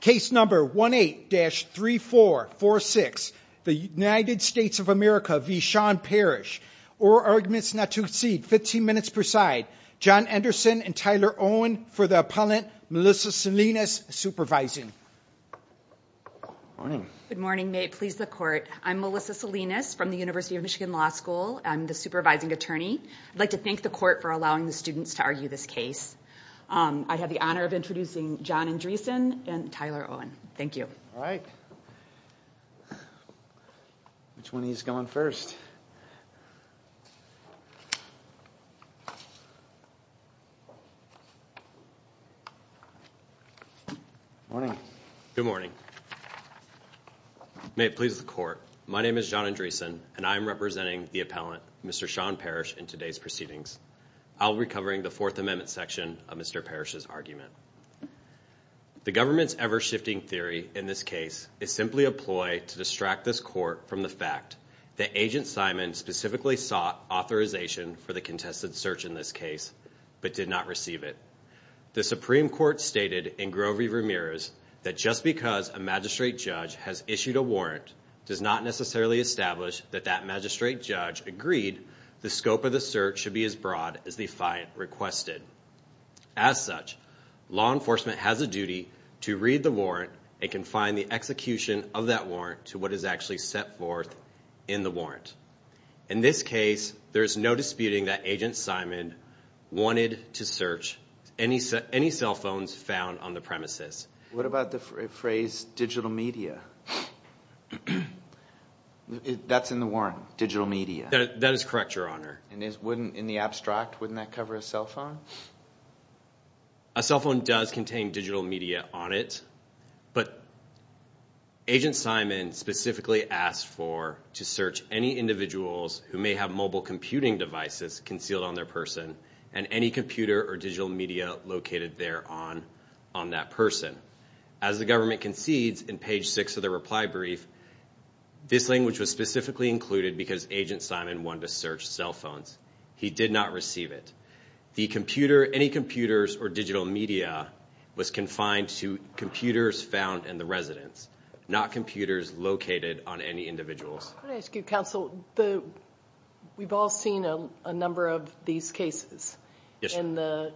Case number 18-3446, the United States of America v. Shawn Parrish. Oral arguments not to exceed 15 minutes per side. John Anderson and Tyler Owen for the appellant, Melissa Salinas, supervising. Good morning. May it please the court. I'm Melissa Salinas from the University of Michigan Law School. I'm the supervising attorney. I'd like to thank the court for allowing the students to argue this case. I have the honor of introducing John Andresen and Tyler Owen. Thank you. All right. Which one of you is going first? Morning. Good morning. May it please the court. My name is John Andresen, and I'm representing the appellant, Mr. Shawn Parrish, in today's proceedings. I'll be covering the Fourth Amendment section of Mr. Parrish's argument. The government's ever-shifting theory in this case is simply a ploy to distract this court from the fact that Agent Simon specifically sought authorization for the contested search in this case but did not receive it. The Supreme Court stated in Grover v. Ramirez that just because a magistrate judge has issued a warrant does not necessarily establish that that magistrate judge agreed the scope of the search should be as broad as the fine requested. As such, law enforcement has a duty to read the warrant and can find the execution of that warrant to what is actually set forth in the warrant. In this case, there is no disputing that Agent Simon wanted to search any cell phones found on the premises. What about the phrase digital media? That's in the warrant, digital media. That is correct, Your Honor. And in the abstract, wouldn't that cover a cell phone? A cell phone does contain digital media on it, but Agent Simon specifically asked for to search any individuals who may have mobile computing devices concealed on their person and any computer or digital media located there on that person. As the government concedes in page 6 of the reply brief, this language was specifically included because Agent Simon wanted to search cell phones. He did not receive it. Any computers or digital media was confined to computers found in the residence, not computers located on any individuals. Counsel, we've all seen a number of these cases, and the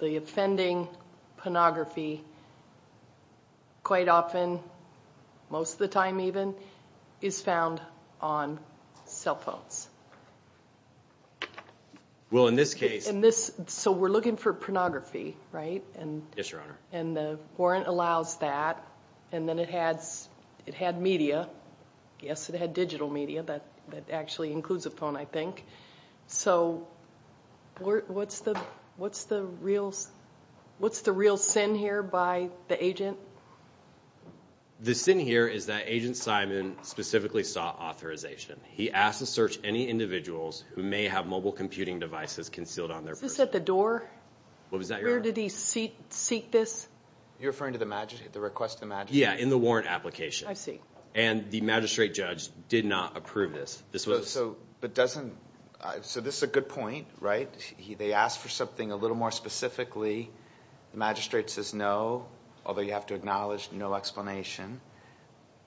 offending pornography quite often, most of the time even, is found on cell phones. Well, in this case... So we're looking for pornography, right? Yes, Your Honor. And the warrant allows that, and then it had media. Yes, it had digital media. That actually includes a phone, I think. So what's the real sin here by the agent? The sin here is that Agent Simon specifically sought authorization. He asked to search any individuals who may have mobile computing devices concealed on their person. Is this at the door? What was that, Your Honor? Where did he seek this? You're referring to the request to the magistrate? Yeah, in the warrant application. I see. And the magistrate judge did not approve this. So this is a good point, right? They asked for something a little more specifically. The magistrate says no, although you have to acknowledge no explanation.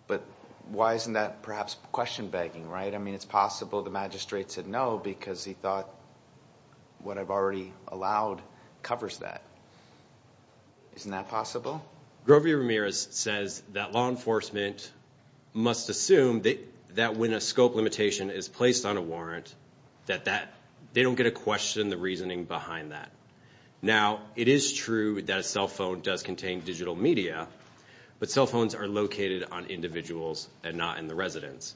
But why isn't that perhaps question-begging, right? I mean, it's possible the magistrate said no because he thought what I've already allowed covers that. Isn't that possible? Grover Ramirez says that law enforcement must assume that when a scope limitation is placed on a warrant, that they don't get to question the reasoning behind that. Now, it is true that a cell phone does contain digital media, but cell phones are located on individuals and not in the residence.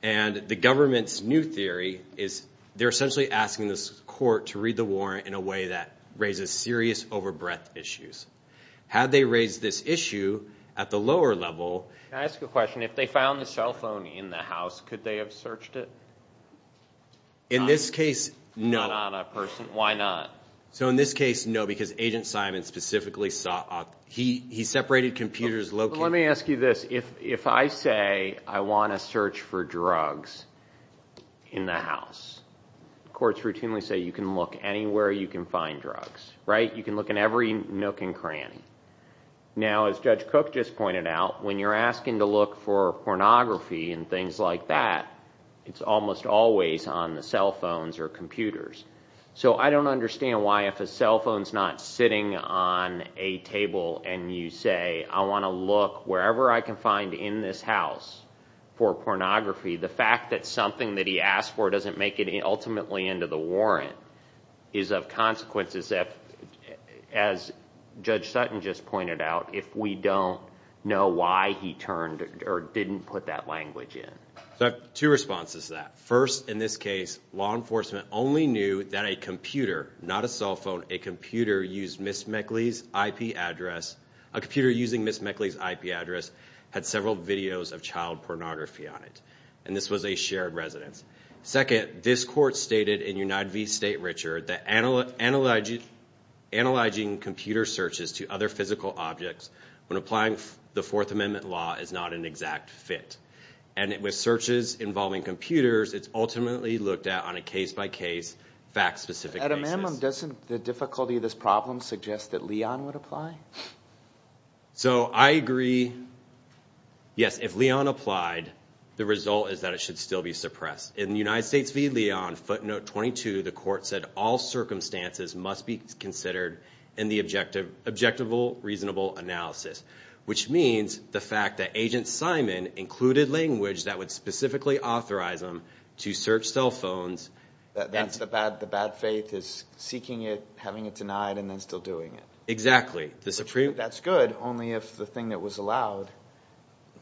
And the government's new theory is they're essentially asking the court to read the warrant in a way that raises serious over-breath issues. Had they raised this issue at the lower level. Can I ask a question? If they found the cell phone in the house, could they have searched it? In this case, no. Not on a person? Why not? So in this case, no, because Agent Simon specifically saw it. He separated computers located. Well, let me ask you this. If I say I want to search for drugs in the house, courts routinely say you can look anywhere you can find drugs, right? You can look in every nook and cranny. Now, as Judge Cook just pointed out, when you're asking to look for pornography and things like that, it's almost always on the cell phones or computers. So I don't understand why if a cell phone's not sitting on a table and you say, I want to look wherever I can find in this house for pornography, the fact that something that he asked for doesn't make it ultimately into the warrant is of consequence, as Judge Sutton just pointed out, if we don't know why he turned or didn't put that language in. So I have two responses to that. First, in this case, law enforcement only knew that a computer, not a cell phone, a computer using Ms. Meckley's IP address had several videos of child pornography on it, and this was a shared residence. Second, this court stated in United v. State, Richard, that analyzing computer searches to other physical objects when applying the Fourth Amendment law is not an exact fit, and with searches involving computers, it's ultimately looked at on a case-by-case, fact-specific basis. At a minimum, doesn't the difficulty of this problem suggest that Leon would apply? So I agree, yes, if Leon applied, the result is that it should still be suppressed. In United States v. Leon, footnote 22, the court said all circumstances must be considered in the objective, reasonable analysis, which means the fact that Agent Simon included language that would specifically authorize him to search cell phones. The bad faith is seeking it, having it denied, and then still doing it. Exactly. That's good, only if the thing that was allowed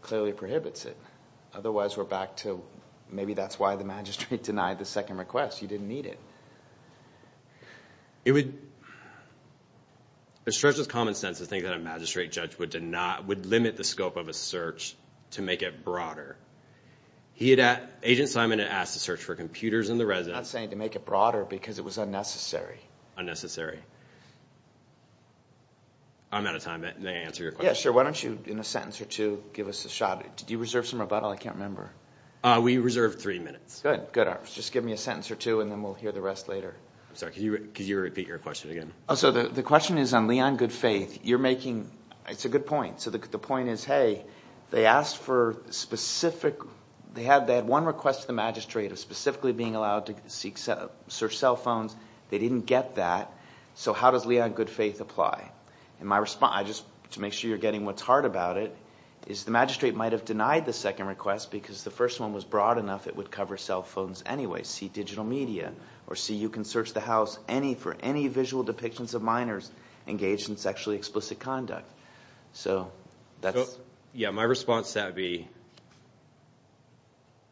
clearly prohibits it. Otherwise, we're back to maybe that's why the magistrate denied the second request. He didn't need it. It stretches common sense to think that a magistrate judge would limit the scope of a search to make it broader. Agent Simon had asked to search for computers in the residence. I'm not saying to make it broader because it was unnecessary. Unnecessary. I'm out of time. May I answer your question? Yeah, sure. Why don't you, in a sentence or two, give us a shot? Did you reserve some rebuttal? I can't remember. We reserved three minutes. Good. Just give me a sentence or two, and then we'll hear the rest later. Sorry, could you repeat your question again? The question is on Leon Goodfaith. It's a good point. The point is, hey, they had one request to the magistrate of specifically being allowed to search cell phones. They didn't get that, so how does Leon Goodfaith apply? To make sure you're getting what's hard about it is the magistrate might have denied the second request because the first one was broad enough it would cover cell phones anyway. See digital media or see you can search the house for any visual depictions of minors engaged in sexually explicit conduct. Yeah, my response to that would be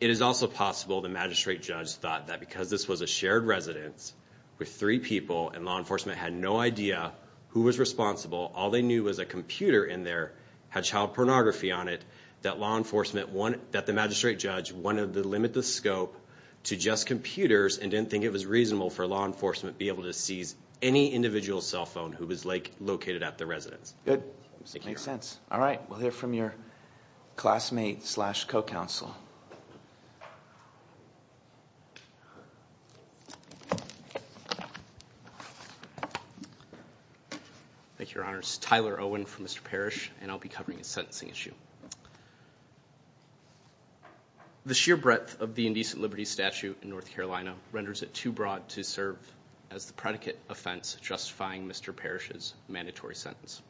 it is also possible the magistrate judge thought that because this was a shared residence with three people and law enforcement had no idea who was responsible, all they knew was a computer in there had child pornography on it, that the magistrate judge wanted to limit the scope to just computers and didn't think it was reasonable for law enforcement to be able to seize any individual cell phone who was located at the residence. Good. Makes sense. All right, we'll hear from your classmate slash co-counsel. Thank you, Your Honors. My name is Tyler Owen from Mr. Parrish, and I'll be covering a sentencing issue. The sheer breadth of the indecent liberty statute in North Carolina renders it too broad to serve as the predicate offense justifying Mr. Parrish's mandatory sentence.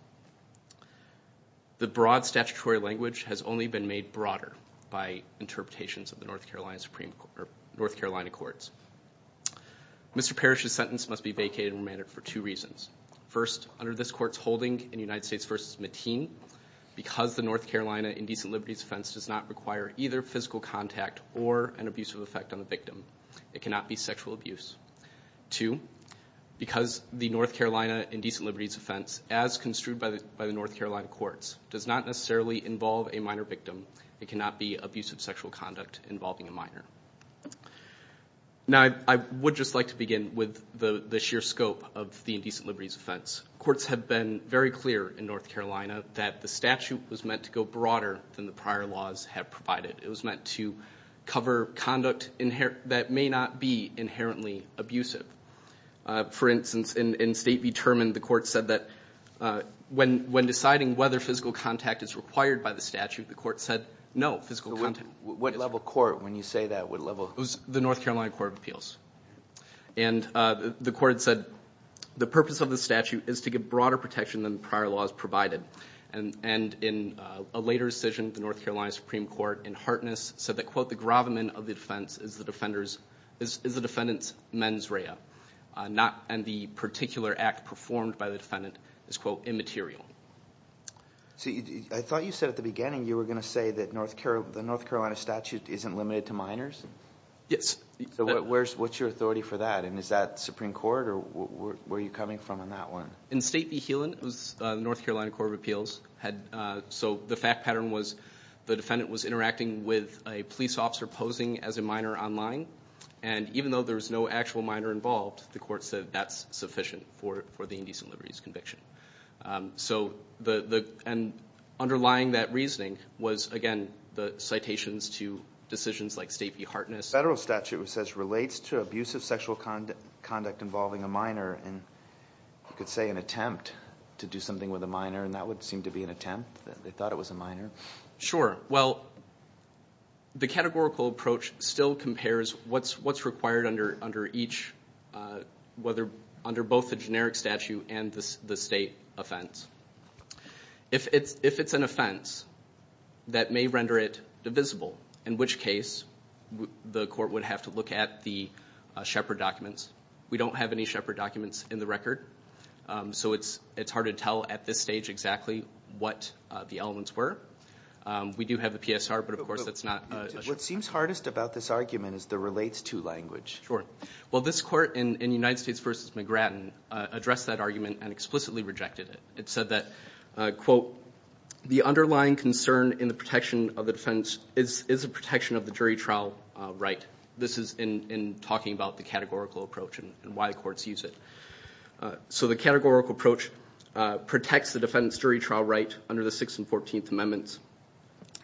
The broad statutory language has only been made broader by interpretations of the North Carolina courts. Mr. Parrish's sentence must be vacated and remanded for two reasons. First, under this court's holding in United States v. Mateen, because the North Carolina indecent liberties offense does not require either physical contact or an abusive effect on the victim, it cannot be sexual abuse. Two, because the North Carolina indecent liberties offense, as construed by the North Carolina courts, does not necessarily involve a minor victim, it cannot be abusive sexual conduct involving a minor. Now, I would just like to begin with the sheer scope of the indecent liberties offense. Courts have been very clear in North Carolina that the statute was meant to go broader than the prior laws have provided. It was meant to cover conduct that may not be inherently abusive. For instance, in State v. Terman, the court said that when deciding whether physical contact is required by the statute, the court said no physical contact. What level court, when you say that, what level? It was the North Carolina Court of Appeals. And the court said the purpose of the statute is to give broader protection than the prior laws provided. And in a later decision, the North Carolina Supreme Court, in Hartness, said that, quote, the gravamen of the defense is the defendant's mens rea, and the particular act performed by the defendant is, quote, immaterial. So I thought you said at the beginning you were going to say that the North Carolina statute isn't limited to minors? Yes. So what's your authority for that, and is that Supreme Court, or where are you coming from on that one? In State v. Healan, it was the North Carolina Court of Appeals. So the fact pattern was the defendant was interacting with a police officer posing as a minor online, and even though there was no actual minor involved, the court said that's sufficient for the indecent liberties conviction. So underlying that reasoning was, again, the citations to decisions like State v. Hartness. The federal statute, it says, relates to abusive sexual conduct involving a minor, and you could say an attempt to do something with a minor, and that would seem to be an attempt. They thought it was a minor. Sure. Well, the categorical approach still compares what's required under both the generic statute and the State offense. If it's an offense, that may render it divisible, in which case the court would have to look at the Shepard documents. We don't have any Shepard documents in the record, so it's hard to tell at this stage exactly what the elements were. We do have the PSR, but of course that's not a Shepard document. What seems hardest about this argument is the relates to language. Sure. Well, this court in United States v. McGrattan addressed that argument and explicitly rejected it. It said that, quote, the underlying concern in the protection of the defense is the protection of the jury trial right. This is in talking about the categorical approach and why courts use it. So the categorical approach protects the defendant's jury trial right under the Sixth and Fourteenth Amendments.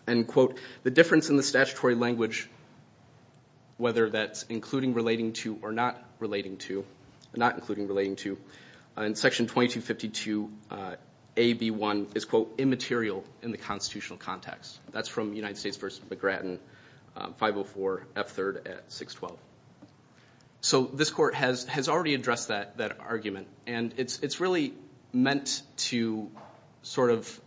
And, quote, the difference in the statutory language, whether that's including relating to or not including relating to, in Section 2252a)(b)(1), is, quote, immaterial in the constitutional context. That's from United States v. McGrattan, 504 F. 3rd at 612. So this court has already addressed that argument, and it's really meant to sort of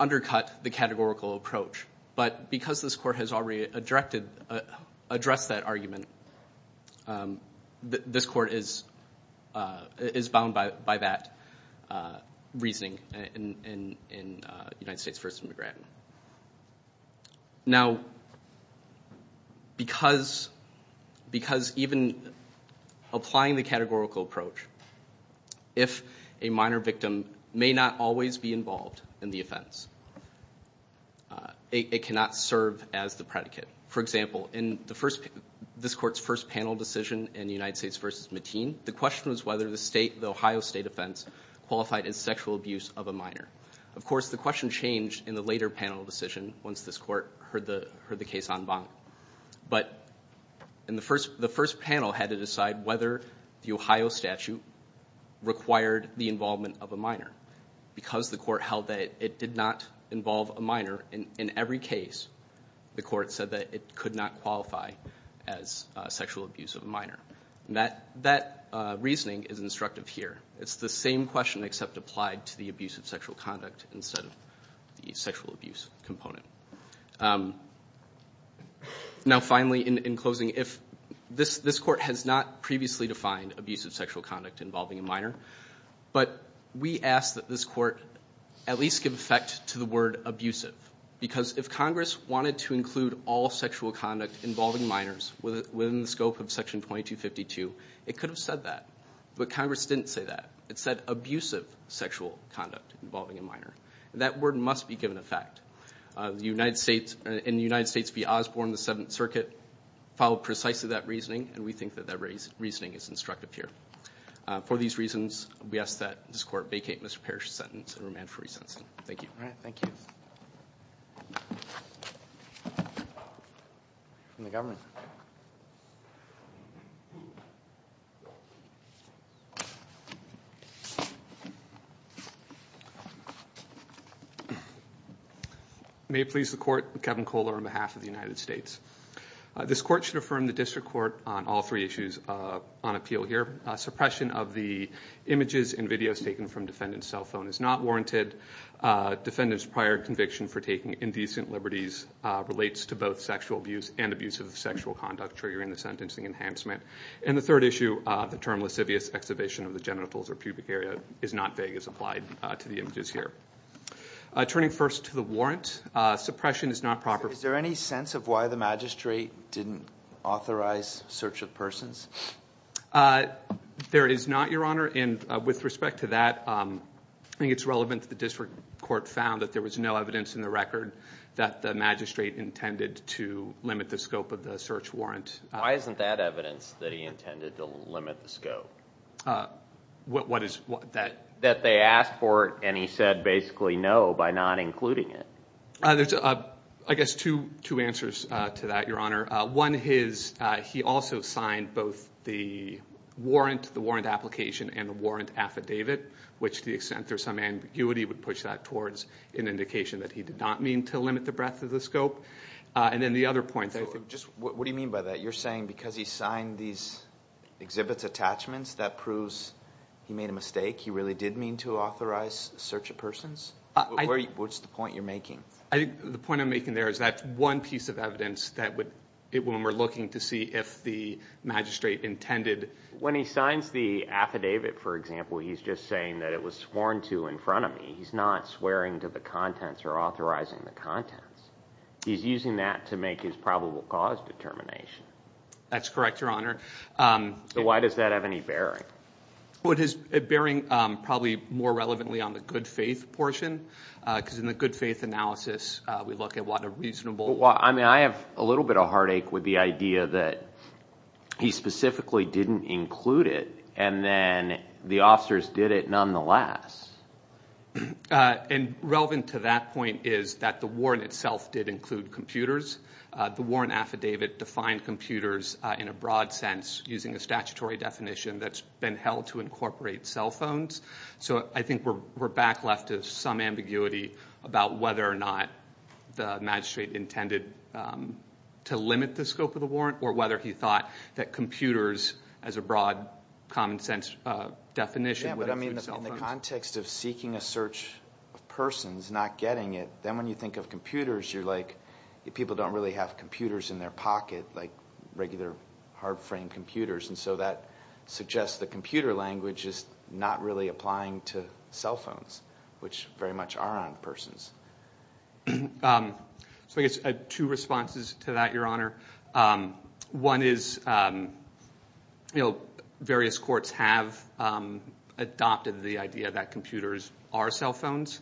undercut the categorical approach. But because this court has already addressed that argument, this court is bound by that reasoning in United States v. McGrattan. Now, because even applying the categorical approach, if a minor victim may not always be involved in the offense, it cannot serve as the predicate. For example, in this court's first panel decision in United States v. Mateen, the question was whether the Ohio State offense qualified as sexual abuse of a minor. Of course, the question changed in the later panel decision once this court heard the case en banc. But in the first panel had to decide whether the Ohio statute required the involvement of a minor. Because the court held that it did not involve a minor in every case, the court said that it could not qualify as sexual abuse of a minor. And that reasoning is instructive here. It's the same question except applied to the abusive sexual conduct instead of the sexual abuse component. Now, finally, in closing, this court has not previously defined abusive sexual conduct involving a minor, but we ask that this court at least give effect to the word abusive. Because if Congress wanted to include all sexual conduct involving minors within the scope of Section 2252, it could have said that. But Congress didn't say that. It said abusive sexual conduct involving a minor. That word must be given effect. The United States, in the United States v. Osborne, the Seventh Circuit, followed precisely that reasoning, and we think that that reasoning is instructive here. For these reasons, we ask that this court vacate Mr. Parrish's sentence and remand for resentence. Thank you. All right, thank you. From the government. May it please the Court, Kevin Kohler on behalf of the United States. This court should affirm the district court on all three issues on appeal here. Suppression of the images and videos taken from defendant's cell phone is not warranted. Defendant's prior conviction for taking indecent liberties relates to both sexual abuse and abusive sexual conduct triggering the sentencing enhancement. And the third issue, the term lascivious excavation of the genitals or pubic area, is not vague as applied to the images here. Turning first to the warrant, suppression is not proper. Is there any sense of why the magistrate didn't authorize search of persons? There is not, Your Honor, and with respect to that, I think it's relevant that the district court found that there was no evidence in the record that the magistrate intended to limit the scope of the search warrant. Why isn't that evidence that he intended to limit the scope? What is that? That they asked for it and he said basically no by not including it. There's, I guess, two answers to that, Your Honor. One is he also signed both the warrant, the warrant application, and the warrant affidavit, which to the extent there's some ambiguity would push that towards an indication that he did not mean to limit the breadth of the scope. And then the other point that I think— What do you mean by that? You're saying because he signed these exhibits attachments that proves he made a mistake? He really did mean to authorize search of persons? What's the point you're making? I think the point I'm making there is that's one piece of evidence that when we're looking to see if the magistrate intended— When he signs the affidavit, for example, he's just saying that it was sworn to in front of me. He's not swearing to the contents or authorizing the contents. He's using that to make his probable cause determination. That's correct, Your Honor. So why does that have any bearing? It's bearing probably more relevantly on the good faith portion because in the good faith analysis we look at what a reasonable— I have a little bit of heartache with the idea that he specifically didn't include it and then the officers did it nonetheless. And relevant to that point is that the warrant itself did include computers. The warrant affidavit defined computers in a broad sense using a statutory definition that's been held to incorporate cell phones. So I think we're back left to some ambiguity about whether or not the magistrate intended to limit the scope of the warrant or whether he thought that computers as a broad common sense definition would include cell phones. Yeah, but I mean in the context of seeking a search of persons, not getting it, then when you think of computers, you're like people don't really have computers in their pocket like regular hard frame computers. And so that suggests the computer language is not really applying to cell phones, which very much are on persons. So I guess two responses to that, Your Honor. One is, you know, various courts have adopted the idea that computers are cell phones.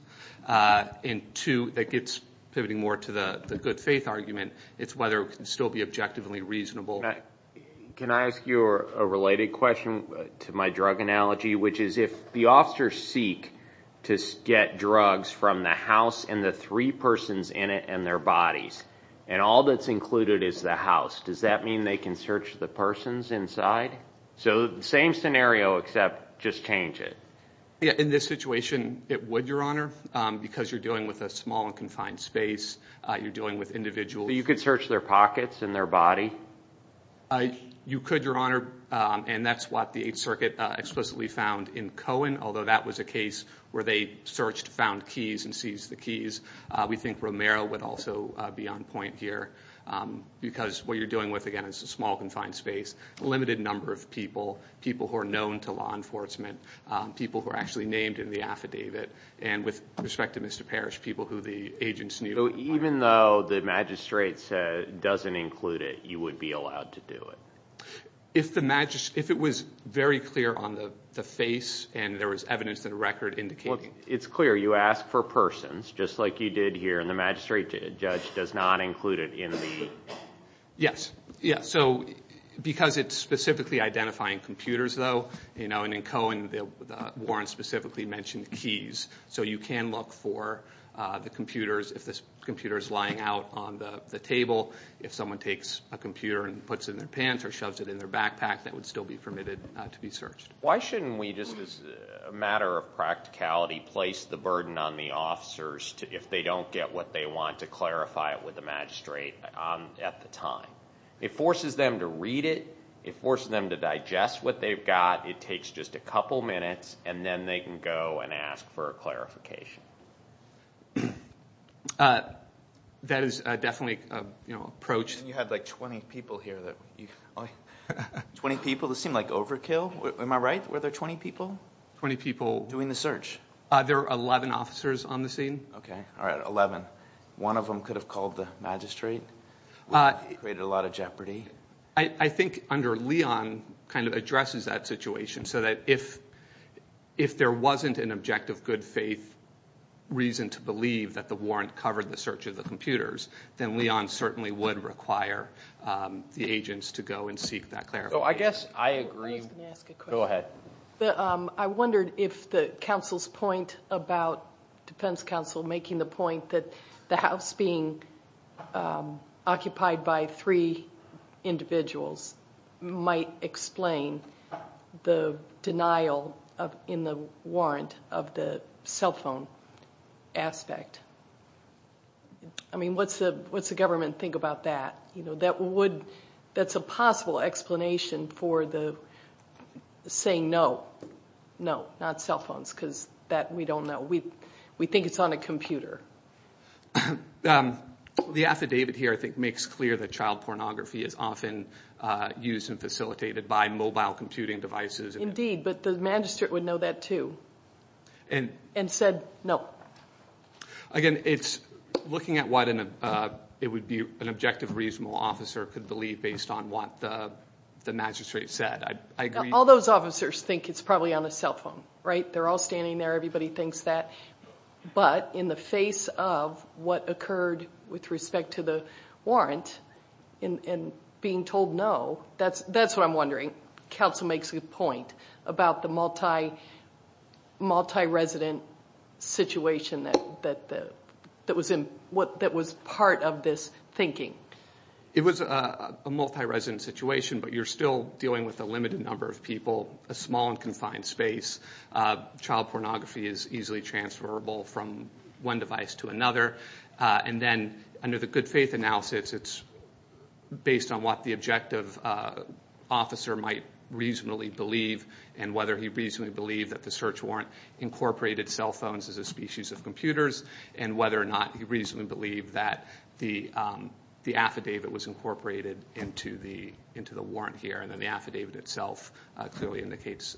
And two, that gets pivoting more to the good faith argument, it's whether it can still be objectively reasonable. Can I ask you a related question to my drug analogy, which is if the officers seek to get drugs from the house and the three persons in it and their bodies, and all that's included is the house, does that mean they can search the persons inside? So the same scenario except just change it. In this situation, it would, Your Honor, because you're dealing with a small and confined space. You're dealing with individuals. So you could search their pockets and their body? You could, Your Honor, and that's what the Eighth Circuit explicitly found in Cohen, although that was a case where they searched, found keys, and seized the keys. We think Romero would also be on point here because what you're doing with, again, is a small confined space, a limited number of people, people who are known to law enforcement, people who are actually named in the affidavit, and with respect to Mr. Parrish, people who the agents knew. So even though the magistrate said it doesn't include it, you would be allowed to do it? If it was very clear on the face and there was evidence in the record indicating it. Well, it's clear. You ask for persons, just like you did here, and the magistrate did. The judge does not include it in the group. Yes. So because it's specifically identifying computers, though, and in Cohen the warrant specifically mentioned keys, so you can look for the computers. If the computer is lying out on the table, if someone takes a computer and puts it in their pants or shoves it in their backpack, that would still be permitted to be searched. Why shouldn't we just, as a matter of practicality, place the burden on the officers if they don't get what they want to clarify it with the magistrate at the time? It forces them to read it. It forces them to digest what they've got. It takes just a couple minutes, and then they can go and ask for a clarification. That is definitely approached. You had like 20 people here. 20 people? This seemed like overkill. Am I right? Were there 20 people? 20 people. Doing the search. There were 11 officers on the scene. Okay. All right, 11. One of them could have called the magistrate. It created a lot of jeopardy. I think under Leon addresses that situation so that if there wasn't an objective good faith reason to believe that the warrant covered the search of the computers, then Leon certainly would require the agents to go and seek that clarification. I guess I agree. I was going to ask a question. Go ahead. I wondered if the counsel's point about defense counsel making the point that the house being occupied by three individuals might explain the denial in the warrant of the cell phone aspect. I mean, what's the government think about that? That's a possible explanation for the saying no, no, not cell phones because that we don't know. We think it's on a computer. The affidavit here I think makes clear that child pornography is often used and facilitated by mobile computing devices. Indeed, but the magistrate would know that too and said no. Again, it's looking at what it would be an objective reasonable officer could believe based on what the magistrate said. I agree. All those officers think it's probably on a cell phone. Right? They're all standing there. Everybody thinks that. But in the face of what occurred with respect to the warrant and being told no, that's what I'm wondering. Counsel makes a good point about the multi-resident situation that was part of this thinking. It was a multi-resident situation, but you're still dealing with a limited number of people, a small and confined space. Child pornography is easily transferable from one device to another. And then under the good faith analysis, it's based on what the objective officer might reasonably believe and whether he reasonably believed that the search warrant incorporated cell phones as a species of computers and whether or not he reasonably believed that the affidavit was incorporated into the warrant here. And then the affidavit itself clearly indicates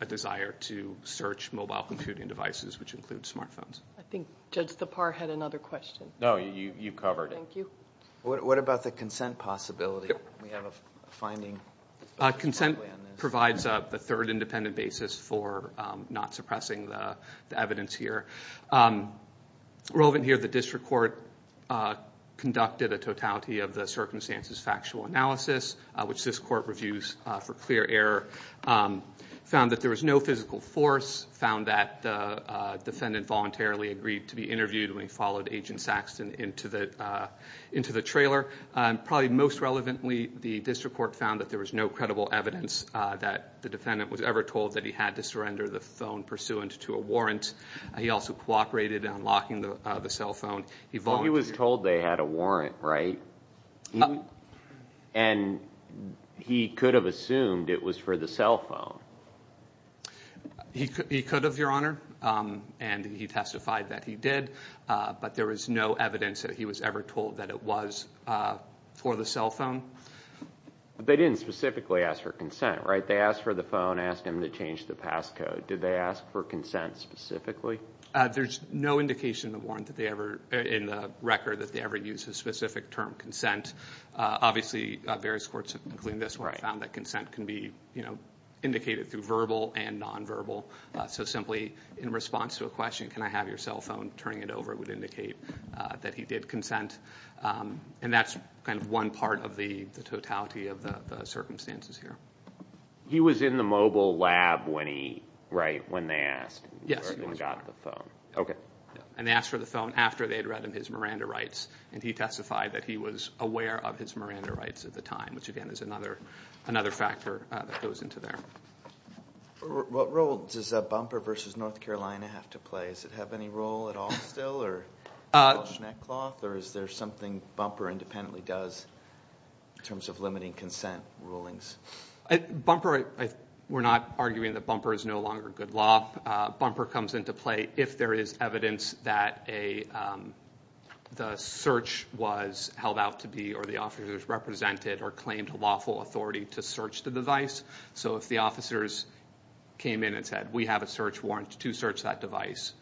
a desire to search mobile computing devices, which include smart phones. I think Judge Thapar had another question. No, you covered it. Thank you. What about the consent possibility? We have a finding. Consent provides the third independent basis for not suppressing the evidence here. Relevant here, the district court conducted a totality of the circumstances factual analysis, which this court reviews for clear error, found that there was no physical force, found that the defendant voluntarily agreed to be interviewed when he followed Agent Saxton into the trailer. Probably most relevantly, the district court found that there was no credible evidence that the defendant was ever told that he had to surrender the phone pursuant to a warrant. He also cooperated in unlocking the cell phone. He was told they had a warrant, right? And he could have assumed it was for the cell phone. He could have, Your Honor, and he testified that he did, but there was no evidence that he was ever told that it was for the cell phone. But they didn't specifically ask for consent, right? They asked for the phone, asked him to change the passcode. Did they ask for consent specifically? There's no indication in the record that they ever used a specific term, consent. Obviously, various courts, including this one, found that consent can be indicated through verbal and nonverbal. So simply in response to a question, can I have your cell phone, turning it over, would indicate that he did consent. And that's kind of one part of the totality of the circumstances here. He was in the mobile lab when he, right, when they asked and got the phone. Okay. And they asked for the phone after they had read him his Miranda rights, and he testified that he was aware of his Miranda rights at the time, which again is another factor that goes into there. What role does Bumper v. North Carolina have to play? Does it have any role at all still? Is there something Bumper independently does in terms of limiting consent rulings? Bumper, we're not arguing that Bumper is no longer good law. Bumper comes into play if there is evidence that the search was held out to be or the officers represented or claimed lawful authority to search the device. So if the officers came in and said, we have a search warrant to search that device,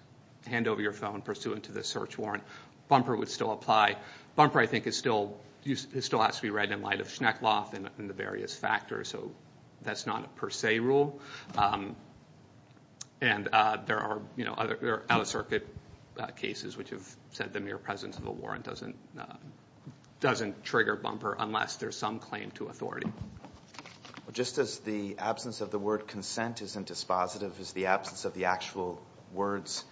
hand over your phone pursuant to this search warrant, Bumper would still apply. Bumper, I think, still has to be read in light of Schneckloff and the various factors. So that's not a per se rule. And there are other out-of-circuit cases which have said the mere presence of a warrant doesn't trigger Bumper unless there's some claim to authority. Just as the absence of the word consent isn't dispositive, is the absence of the actual words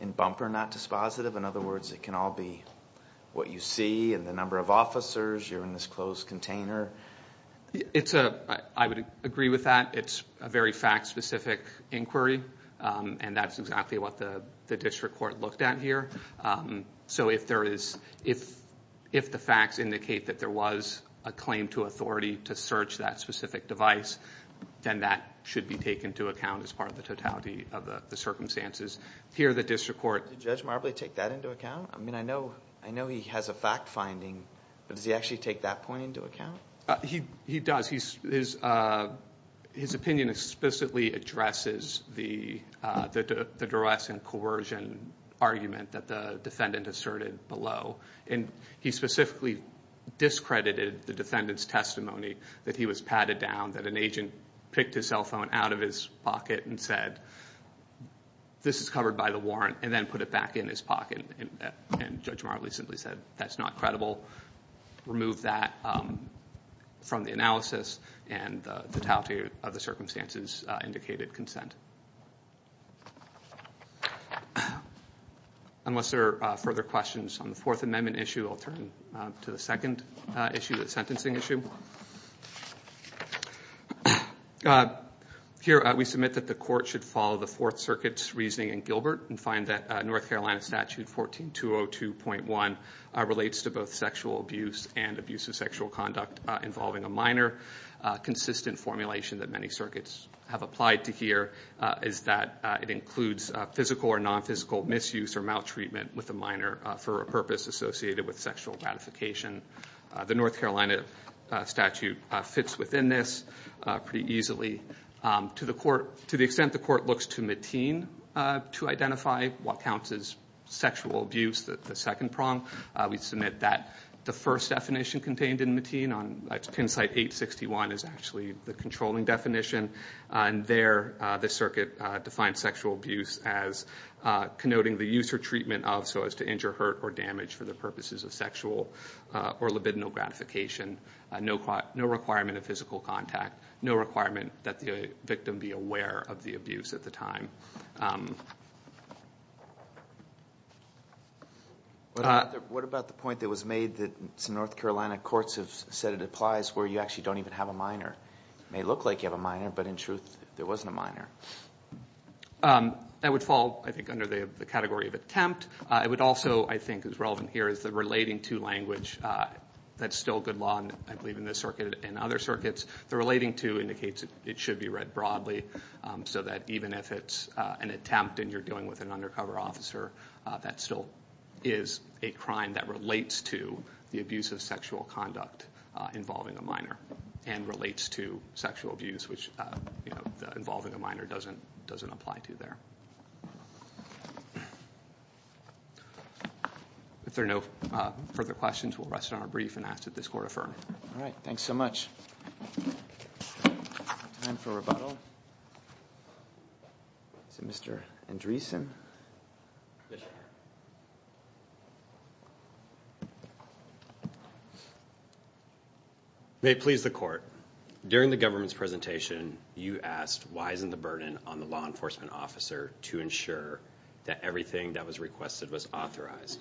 in Bumper not dispositive? In other words, it can all be what you see and the number of officers. You're in this closed container. I would agree with that. It's a very fact-specific inquiry, and that's exactly what the district court looked at here. So if the facts indicate that there was a claim to authority to search that specific device, then that should be taken into account as part of the totality of the circumstances. Here the district court. Did Judge Marbley take that into account? I mean, I know he has a fact finding, but does he actually take that point into account? He does. His opinion explicitly addresses the duress and coercion argument that the defendant asserted below. And he specifically discredited the defendant's testimony that he was patted down, that an agent picked his cell phone out of his pocket and said, this is covered by the warrant, and then put it back in his pocket. And Judge Marbley simply said, that's not credible. Removed that from the analysis, and the totality of the circumstances indicated consent. Unless there are further questions on the Fourth Amendment issue, I'll turn to the second issue, the sentencing issue. Here we submit that the court should follow the Fourth Circuit's reasoning in Gilbert and find that North Carolina Statute 14202.1 relates to both sexual abuse and abuse of sexual conduct involving a minor consistent formulation that many circuits have applied to here. It's that it includes physical or non-physical misuse or maltreatment with a minor for a purpose associated with sexual gratification. The North Carolina statute fits within this pretty easily. To the extent the court looks to Mateen to identify what counts as sexual abuse, the second prong, we submit that the first definition contained in Mateen, on pin site 861, is actually the controlling definition. There, the circuit defines sexual abuse as connoting the use or treatment of, so as to injure, hurt, or damage for the purposes of sexual or libidinal gratification. No requirement of physical contact. No requirement that the victim be aware of the abuse at the time. What about the point that was made that some North Carolina courts have said it applies where you actually don't even have a minor? It may look like you have a minor, but in truth, there wasn't a minor. That would fall, I think, under the category of attempt. It would also, I think, as relevant here, is the relating to language. That's still good law, I believe, in this circuit and other circuits. The relating to indicates it should be read broadly so that even if it's an attempt and you're dealing with an undercover officer, that still is a crime that relates to the abuse of sexual conduct involving a minor and relates to sexual abuse, which involving a minor doesn't apply to there. If there are no further questions, we'll rest on our brief and ask that this court affirm. All right, thanks so much. Time for rebuttal. Is it Mr. Andreessen? Yes, sir. May it please the court. During the government's presentation, you asked why isn't the burden on the law enforcement officer to ensure that everything that was requested was authorized.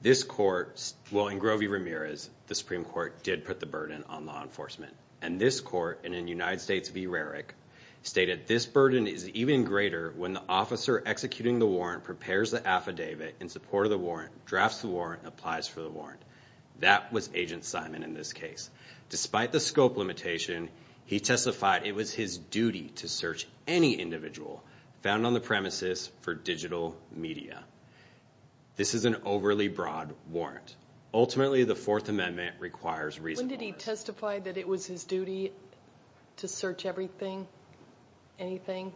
This court, well, in Grovey-Ramirez, the Supreme Court did put the burden on law enforcement, and this court, and in United States v. Rarick, stated this burden is even greater when the officer executing the warrant prepares the affidavit in support of the warrant, drafts the warrant, and applies for the warrant. That was Agent Simon in this case. Despite the scope limitation, he testified it was his duty to search any individual found on the premises for digital media. This is an overly broad warrant. Ultimately, the Fourth Amendment requires reasonable risk. When did he testify that it was his duty to search everything, anything?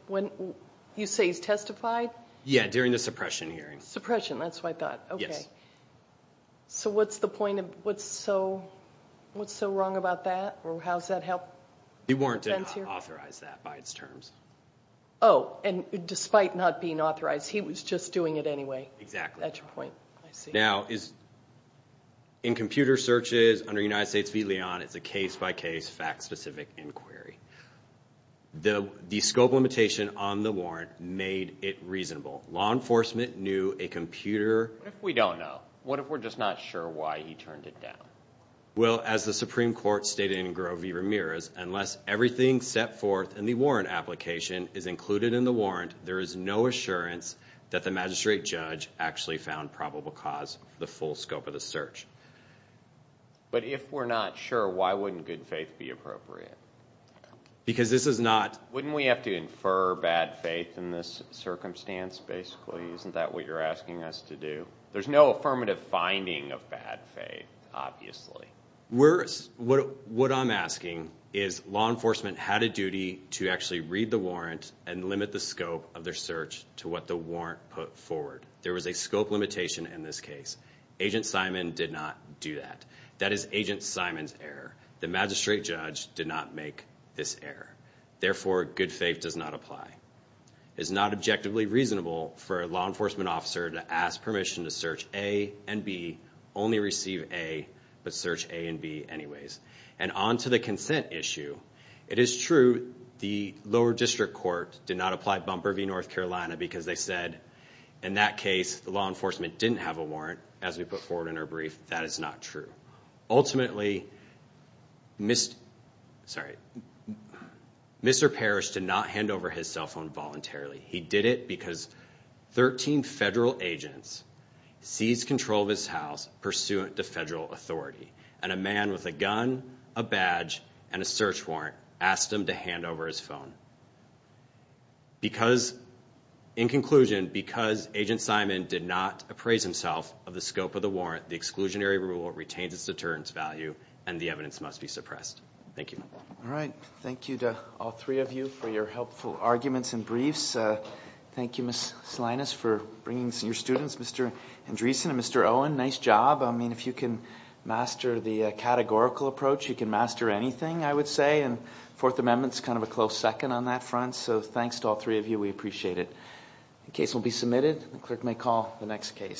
You say he's testified? Yeah, during the suppression hearing. Suppression, that's what I thought. Yes. Okay. So what's the point of, what's so wrong about that, or how's that help defense here? The warrant did not authorize that by its terms. Oh, and despite not being authorized, he was just doing it anyway. Exactly. That's your point, I see. Now, in computer searches under United States v. Leon, it's a case-by-case, fact-specific inquiry. The scope limitation on the warrant made it reasonable. Law enforcement knew a computer... What if we don't know? What if we're just not sure why he turned it down? Well, as the Supreme Court stated in Grove v. Ramirez, unless everything set forth in the warrant application is included in the warrant, there is no assurance that the magistrate judge actually found probable cause for the full scope of the search. But if we're not sure, why wouldn't good faith be appropriate? Because this is not... Wouldn't we have to infer bad faith in this circumstance, basically? Isn't that what you're asking us to do? There's no affirmative finding of bad faith, obviously. What I'm asking is law enforcement had a duty to actually read the warrant and limit the scope of their search to what the warrant put forward. There was a scope limitation in this case. Agent Simon did not do that. That is Agent Simon's error. The magistrate judge did not make this error. Therefore, good faith does not apply. It is not objectively reasonable for a law enforcement officer to ask permission to search A and B, only receive A, but search A and B anyways. And on to the consent issue. It is true the lower district court did not apply Bumper v. North Carolina because they said, in that case, the law enforcement didn't have a warrant, as we put forward in our brief. That is not true. Ultimately, Mr. Parrish did not hand over his cell phone voluntarily. He did it because 13 federal agents seized control of his house pursuant to federal authority, and a man with a gun, a badge, and a search warrant asked him to hand over his phone. In conclusion, because Agent Simon did not appraise himself of the scope of the warrant, the exclusionary rule retains its deterrence value, and the evidence must be suppressed. Thank you. All right. Thank you to all three of you for your helpful arguments and briefs. Thank you, Ms. Salinas, for bringing your students, Mr. Andreessen and Mr. Owen. Nice job. I mean, if you can master the categorical approach, you can master anything, I would say, and Fourth Amendment is kind of a close second on that front. So thanks to all three of you. We appreciate it. The case will be submitted. The clerk may call the next case.